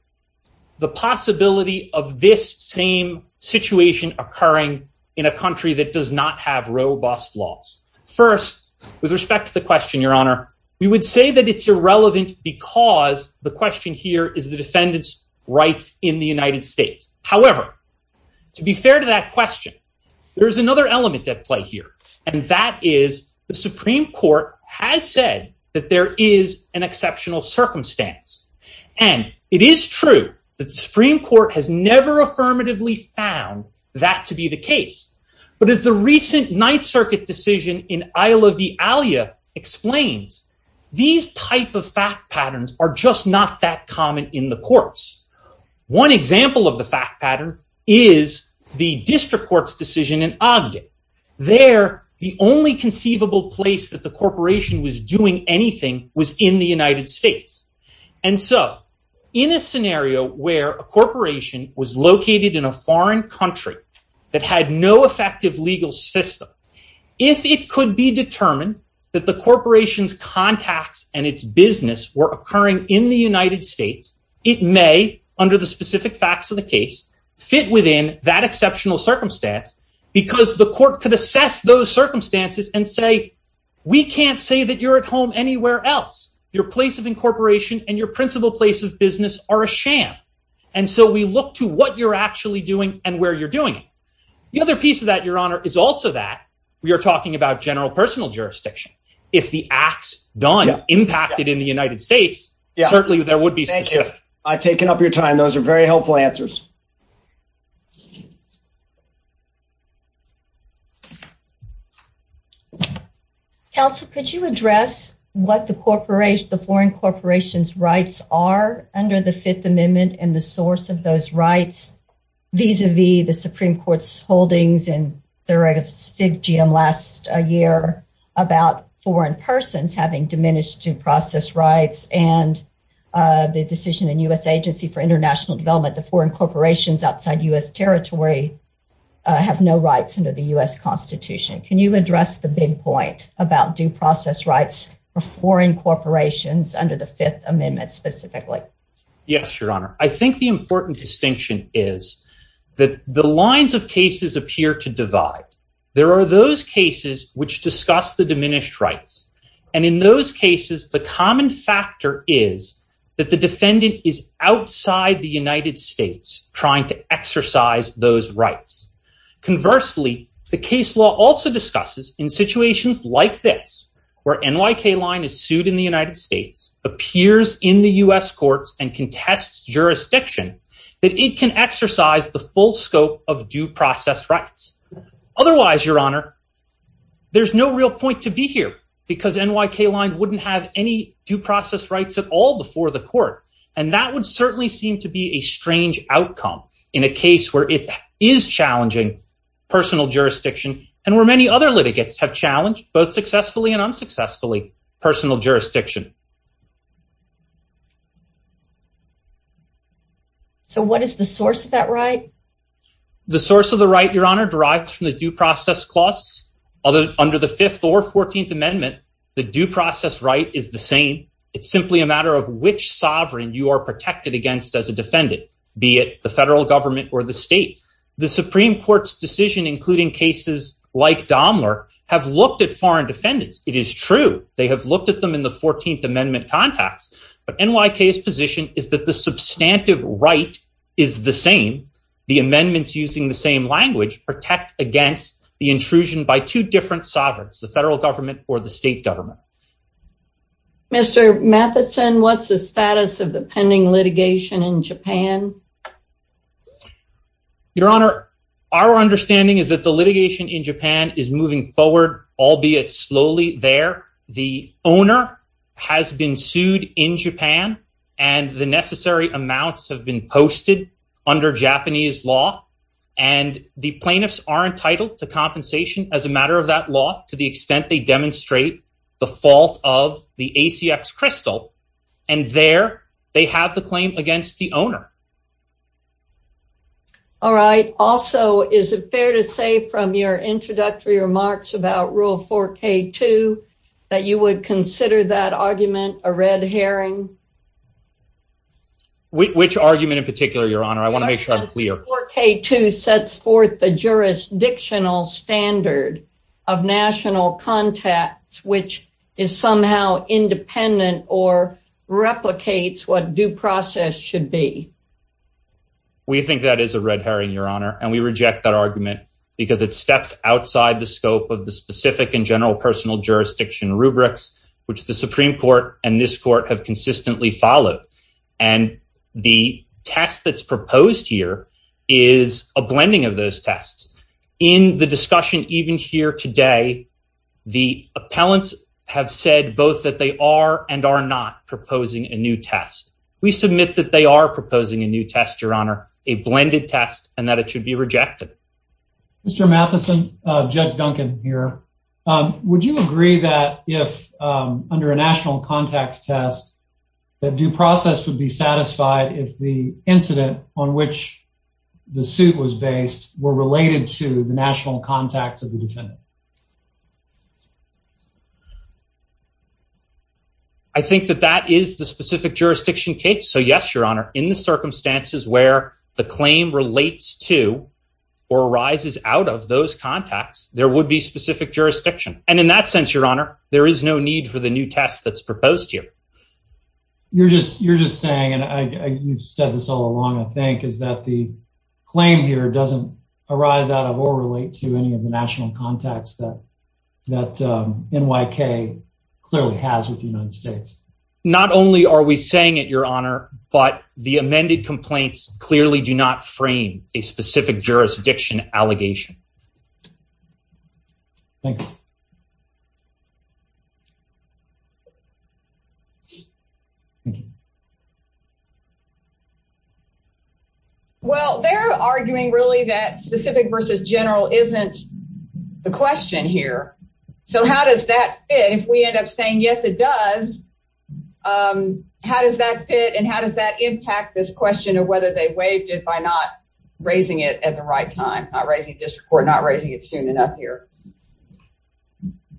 the possibility of this same situation occurring in a country that does not have robust laws. First, with respect to the question, Your Honor, we would say that it's irrelevant because the question here is the defendant's rights in the United States. However, to be fair to that question, there's another element at play here, and that is the Supreme Court has said that there is an exceptional circumstance, and it is true that the Supreme Court has never affirmatively found that to be the case, but as the recent Ninth Circuit decision in Isla V. Alia explains, these type of fact patterns are just not that common in the courts. One example of the fact pattern is the district court's decision in Agde. There, the only conceivable place that the corporation was doing anything was in the United States, and so in a scenario where a corporation was located in a foreign country that had no effective legal system, if it could be determined that the corporation's contacts and its business were occurring in the United States, it may, under the specific facts of the case, fit within that exceptional circumstance because the court could assess those circumstances and say, we can't say that you're at home anywhere else. Your place of incorporation and your principal place of business are a sham, and so we look to what you're actually doing and where you're doing it. The other piece of that, your honor, is also that we are talking about general personal jurisdiction. If the acts done impacted in the United States, certainly there would be I've taken up your time. Those are very helpful answers. Counsel, could you address what the corporation, the foreign corporation's rights are under the Fifth Amendment and the source of those rights vis-a-vis the Supreme Court's holdings and the right of SIGGM last year about foreign persons having diminished due process rights and the decision in U.S. Agency for International Development, the foreign corporations outside U.S. territory have no rights under the U.S. Constitution. Can you address the big point about due process rights for foreign corporations under the Fifth Amendment specifically? Yes, your honor. I think the important distinction is that the lines of cases appear to divide. There are those cases which discuss the diminished rights, and in those cases, the common factor is that the defendant is outside the United States trying to exercise those rights. Conversely, the case law also discusses in situations like this, where NYK line is sued in the United States, appears in the U.S. courts and contests jurisdiction, that it can exercise the full scope of due process rights. Otherwise, your honor, there's no real point to be here because NYK line wouldn't have any due process rights at all before the court, and that would certainly seem to be a strange outcome in a case where it is challenging personal jurisdiction and where many other litigants have challenged, both successfully and unsuccessfully, personal jurisdiction. So, what is the source of that right? The source of the right, your honor, derives from the due process clause. Under the Fifth or Fourteenth Amendment, the due process right is the same. It's simply a matter of which sovereign you are protected against as a defendant, be it the federal government or the state. The Supreme Court's decision, including cases like Daimler, have looked at foreign defendants. It is true. They have looked at them in the same way. The substantive right is the same. The amendments using the same language protect against the intrusion by two different sovereigns, the federal government or the state government. Mr. Matheson, what's the status of the pending litigation in Japan? Your honor, our understanding is that the litigation in Japan is moving forward, albeit slowly, there. The owner has been sued in Japan, and the necessary amounts have been posted under Japanese law. And the plaintiffs are entitled to compensation as a matter of that law, to the extent they demonstrate the fault of the ACX crystal. And there, they have the claim against the owner. All right. Also, is it fair to say from your introductory remarks about rule 4k2 that you would consider that argument a red herring? Which argument in particular, your honor? I want to make sure I'm clear. 4k2 sets forth the jurisdictional standard of national contacts, which is somehow independent or replicates what due process should be. We think that is a red herring, your honor, and we reject that argument because it steps outside the scope of the specific and general personal jurisdiction rubrics, which the Supreme Court and this court have consistently followed. And the test that's proposed here is a blending of those tests. In the discussion even here today, the appellants have said both that they are and are not proposing a new test. We submit that they are proposing a new test, your honor, a blended test, and that it should be rejected. Mr. Matheson, Judge Duncan here. Would you agree that if under a national contacts test, that due process would be satisfied if the incident on which the suit was based were related to the national contacts of the defendant? I think that that is the specific jurisdiction case. So yes, your honor, in the circumstances where the claim relates to or arises out of those contacts, there would be specific jurisdiction. And in that sense, your honor, there is no need for the new test that's proposed here. You're just you're just saying, and I you've said this all along, I think, is that the claim here doesn't arise out of or relate to any of the national contacts of the defendant. That NYK clearly has with the United States. Not only are we saying it, your honor, but the amended complaints clearly do not frame a specific jurisdiction allegation. Thank you. Well, they're arguing really that specific versus general isn't the question here. So how does that fit if we end up saying, yes, it does? How does that fit? And how does that impact this question of whether they waived it by not raising it at the right time, not raising district court, not raising it soon enough here?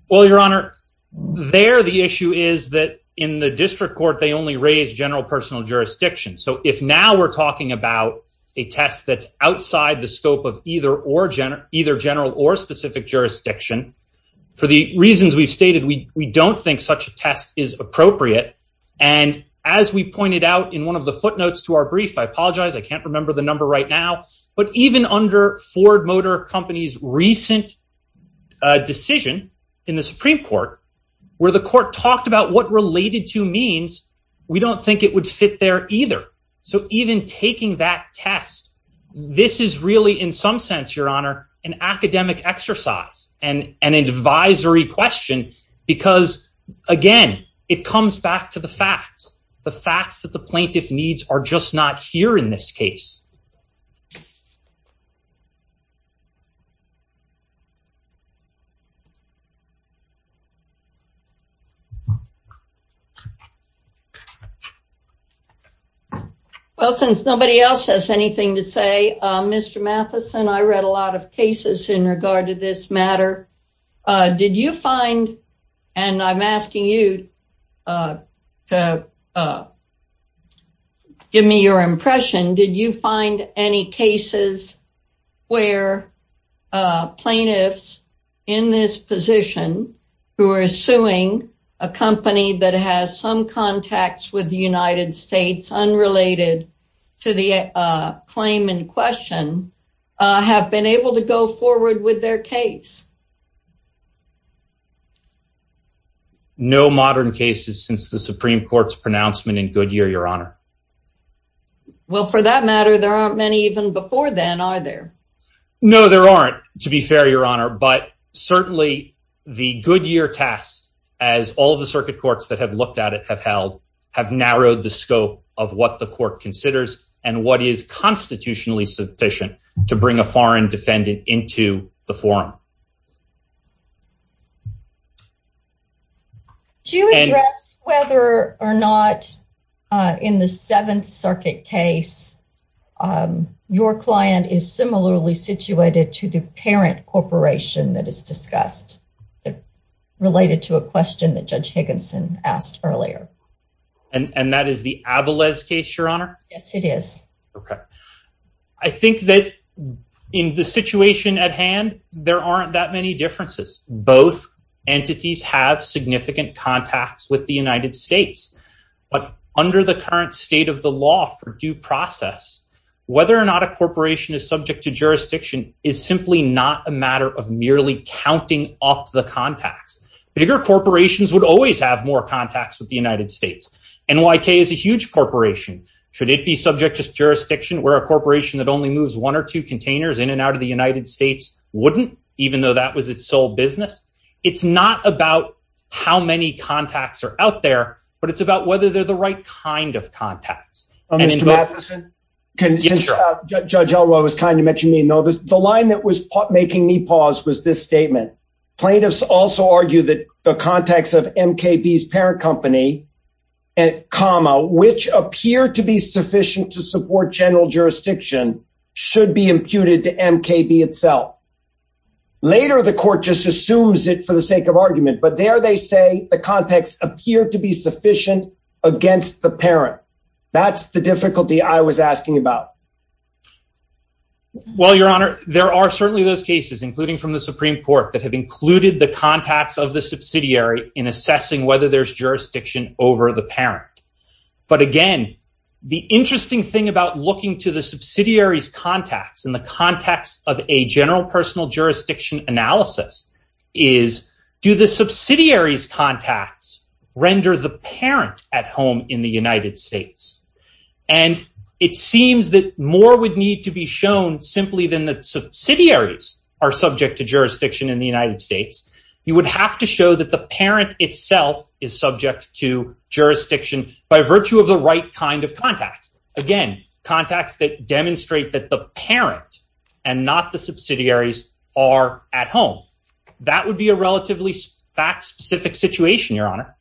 Well, your honor, there the issue is that in the district court, they only raise general personal jurisdiction. So if now we're talking about a test that's outside the scope of either or either general or specific jurisdiction, for the reasons we've stated, we don't think such a test is appropriate. And as we pointed out in one of the footnotes to our brief, I apologize, I can't remember the number right now, but even under Ford Motor Company's recent decision in the Supreme Court where the court talked about what related to means, we don't think it would fit there either. So even taking that test, this is really in some sense, your honor, an academic exercise and an advisory question, because again, it comes back to the facts. The facts that the case. Well, since nobody else has anything to say, Mr. Matheson, I read a lot of cases in regard to this Did you find any cases where plaintiffs in this position who are suing a company that has some contacts with the United States unrelated to the claim in question have been able to go forward with their case? No modern cases since the Supreme Court's pronouncement in Goodyear, your honor. Well, for that matter, there aren't many even before then, are there? No, there aren't, to be fair, your honor, but certainly the Goodyear test, as all the circuit courts that have looked at it have held, have narrowed the scope of what the court considers and what is constitutionally sufficient to bring a foreign defendant into the forum. Do you address whether or not in the Seventh Circuit case, your client is similarly situated to the parent corporation that is discussed, related to a question that Judge Higginson asked earlier? And that is the Abelez case, your honor? Yes, it is. Okay. I think that in the differences, both entities have significant contacts with the United States, but under the current state of the law for due process, whether or not a corporation is subject to jurisdiction is simply not a matter of merely counting off the contacts. Bigger corporations would always have more contacts with the United States. NYK is a huge corporation. Should it be subject to jurisdiction where a corporation that only moves one or two containers in and out of the United States wouldn't, even though that was its sole business? It's not about how many contacts are out there, but it's about whether they're the right kind of contacts. Judge Elroy was kind to mention me. The line that was making me pause was this statement. Plaintiffs also argue that the context of MKB's parent company, comma, which appear to be sufficient to support general jurisdiction, should be imputed to MKB itself. Later, the court just assumes it for the sake of argument, but there they say the context appeared to be sufficient against the parent. That's the difficulty I was asking about. Well, your honor, there are certainly those cases, including from the Supreme Court, that have included the contacts of the subsidiary in assessing whether there's jurisdiction over the parent. But again, the interesting thing about looking to the subsidiary's contacts in the context of a general personal jurisdiction analysis is, do the subsidiary's contacts render the parent at home in the United States? And it seems that more would need to be shown simply than that subsidiaries are subject to jurisdiction in the United States. You would have to show that the parent itself is subject to contacts that demonstrate that the parent and not the subsidiaries are at home. That would be a relatively fact-specific situation, your honor.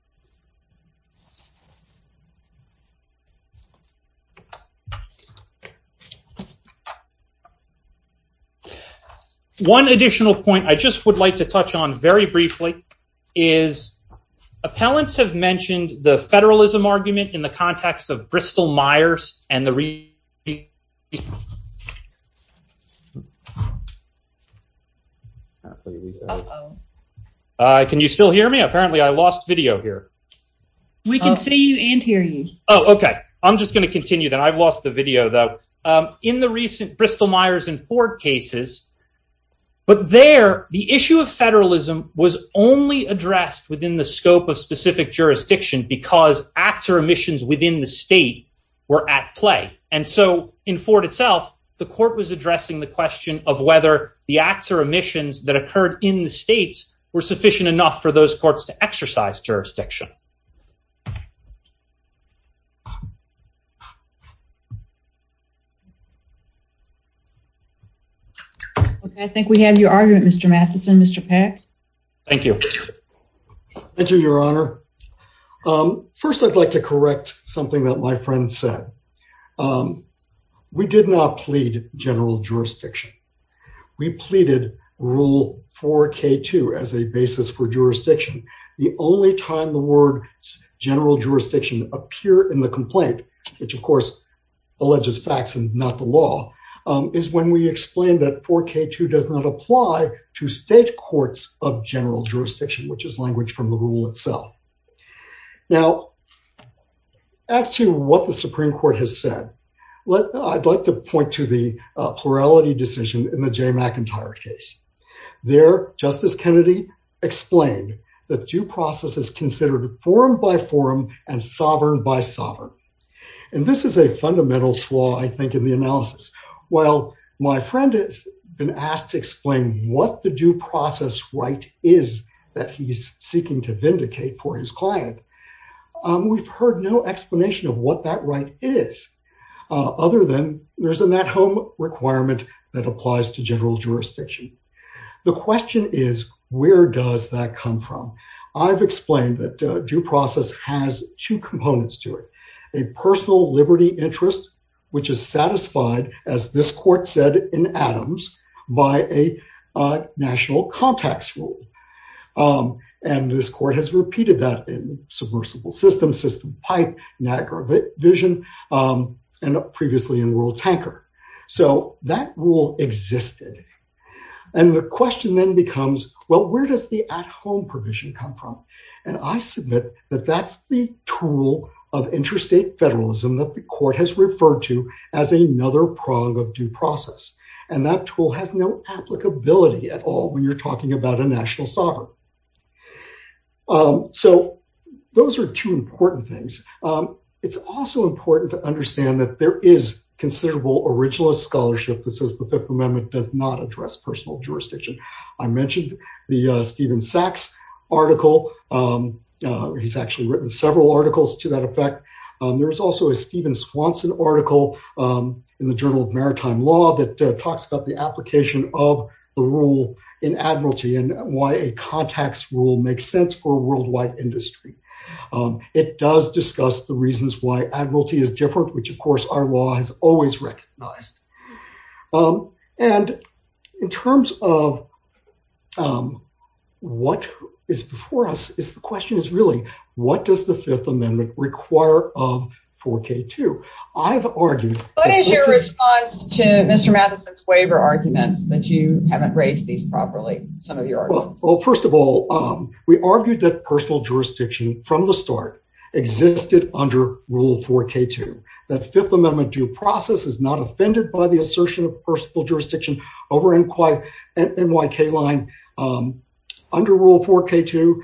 One additional point I just would like to touch on very briefly is appellants have mentioned the federalism argument in the context of Bristol-Myers and the recent- Can you still hear me? Apparently I lost video here. We can see you and hear you. Oh, okay. I'm just going to continue then. I've lost the video though. In the recent Bristol-Myers and Ford cases, but there the issue of federalism was only because acts or omissions within the state were at play. And so in Ford itself, the court was addressing the question of whether the acts or omissions that occurred in the states were sufficient enough for those courts to exercise jurisdiction. Okay. I think we have your argument, Mr. Matheson. Mr. Peck. Thank you. Thank you, your honor. First, I'd like to correct something that my friend said. We did not plead general jurisdiction. We pleaded Rule 4K2 as a basis for jurisdiction. The only time the word general jurisdiction appear in the complaint, which of course alleges facts and not the law, is when we explained that 4K2 does not apply to state courts of general jurisdiction, which is language from the rule itself. Now, as to what the Supreme Court has said, I'd like to point to the plurality decision in the Jay McIntyre case. There, Justice Kennedy explained that due process is considered forum by forum and sovereign by sovereign. And this is a fundamental flaw, I think, in the analysis. Well, my friend has been asked to explain what the due process right is that he's seeking to vindicate for his client. We've heard no explanation of what that right is, other than there's an at-home requirement that applies to general jurisdiction. The question is, where does that come from? I've explained that due process has two components to it. A personal liberty interest, which is satisfied, as this court said in Adams, by a national contacts rule. And this court has repeated that in submersible systems, system pipe, Niagara Vision, and previously in World Tanker. So that rule existed. And the question then becomes, well, where does the at-home provision come from? And I submit that that's the tool of interstate federalism that the court has referred to as another prong of due process. And that tool has no applicability at all when you're talking about a national sovereign. So those are two important things. It's also important to understand that there is considerable originalist scholarship that says the Fifth Amendment does not address personal jurisdiction. I mentioned the Stephen Sachs article. He's actually written several articles to that effect. There was also a Stephen Swanson article in the Journal of Maritime Law that talks about the application of the rule in admiralty and why a contacts rule makes sense for worldwide industry. It does discuss the reasons why admiralty is different, which, of course, our law has always recognized. And in terms of what is before us, the question is really, what does the Fifth Amendment require of 4K2? I've argued- What is your response to Mr. Matheson's waiver arguments that you haven't raised these properly, some of your arguments? Well, first of all, we argued that personal jurisdiction from the start existed under Rule 4K2, that the Fifth Amendment due process is not offended by the assertion of personal jurisdiction over NYK line. Under Rule 4K2,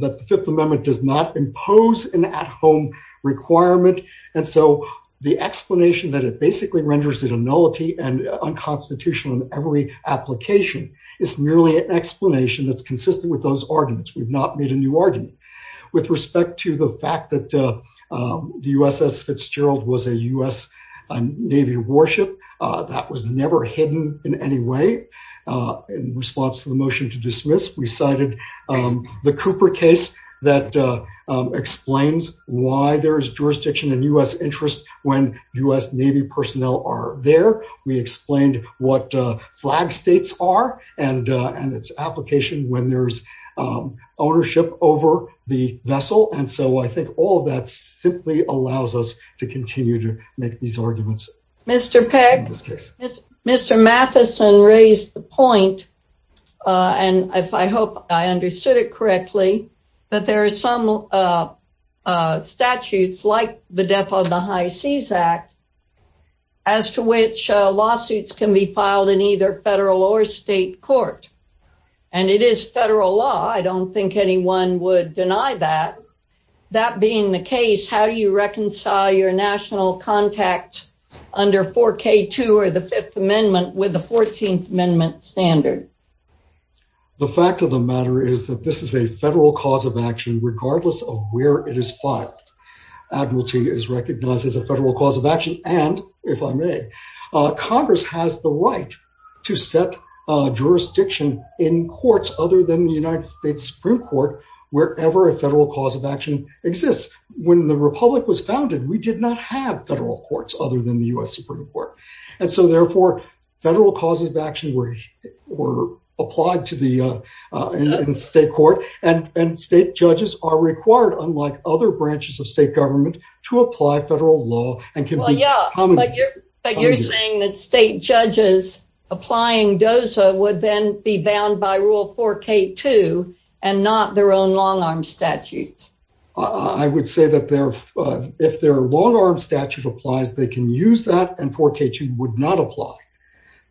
the Fifth Amendment does not impose an at-home requirement. And so the explanation that it basically renders it a nullity and unconstitutional in every application is merely an explanation that's consistent with those arguments. We've not made a new argument. With respect to the fact that the USS Fitzgerald was a U.S. Navy warship, that was never hidden in any way. In response to the motion to dismiss, we cited the Cooper case that explains why there is jurisdiction in U.S. interests when U.S. Navy personnel are there. We explained what flag states are and its application when there's ownership over the vessel. And so I think all of that simply allows us to continue to make these arguments. Mr. Peck, Mr. Matheson raised the point, and I hope I understood it correctly, that there are some statutes, like the Death of the High Seas Act, as to which lawsuits can be filed in either federal or state court. And it is federal law. I don't think anyone would deny that. That being the case, how do you reconcile your national contact under 4K2 or the Fifth Amendment with the Fourteenth Amendment standard? The fact of the matter is that this is a federal cause of action, regardless of where it is filed. Admiralty is recognized as a federal cause of action. And if I may, Congress has the right to set jurisdiction in courts other than the United States Supreme Court, wherever a federal cause of action exists. When the Republic was founded, we did not have federal courts other than the U.S. Supreme Court. And so therefore, federal causes of action were applied to the state court. And state judges are required, unlike other branches of state government, to apply federal law. But you're saying that state judges applying DOSA would then be bound by Rule 4K2 and not their own long-arm statute? I would say that if their long-arm statute applies, they can use that, and 4K2 would not apply.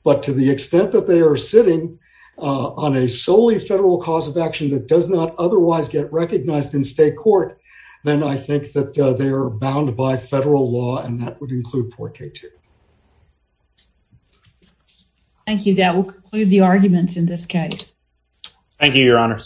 But to the extent that they are sitting on a solely federal cause of action that does not otherwise get recognized in state court, then I think that they are bound by federal law, and that would include 4K2. Thank you. That will conclude the arguments in this case. Thank you, Your Honor.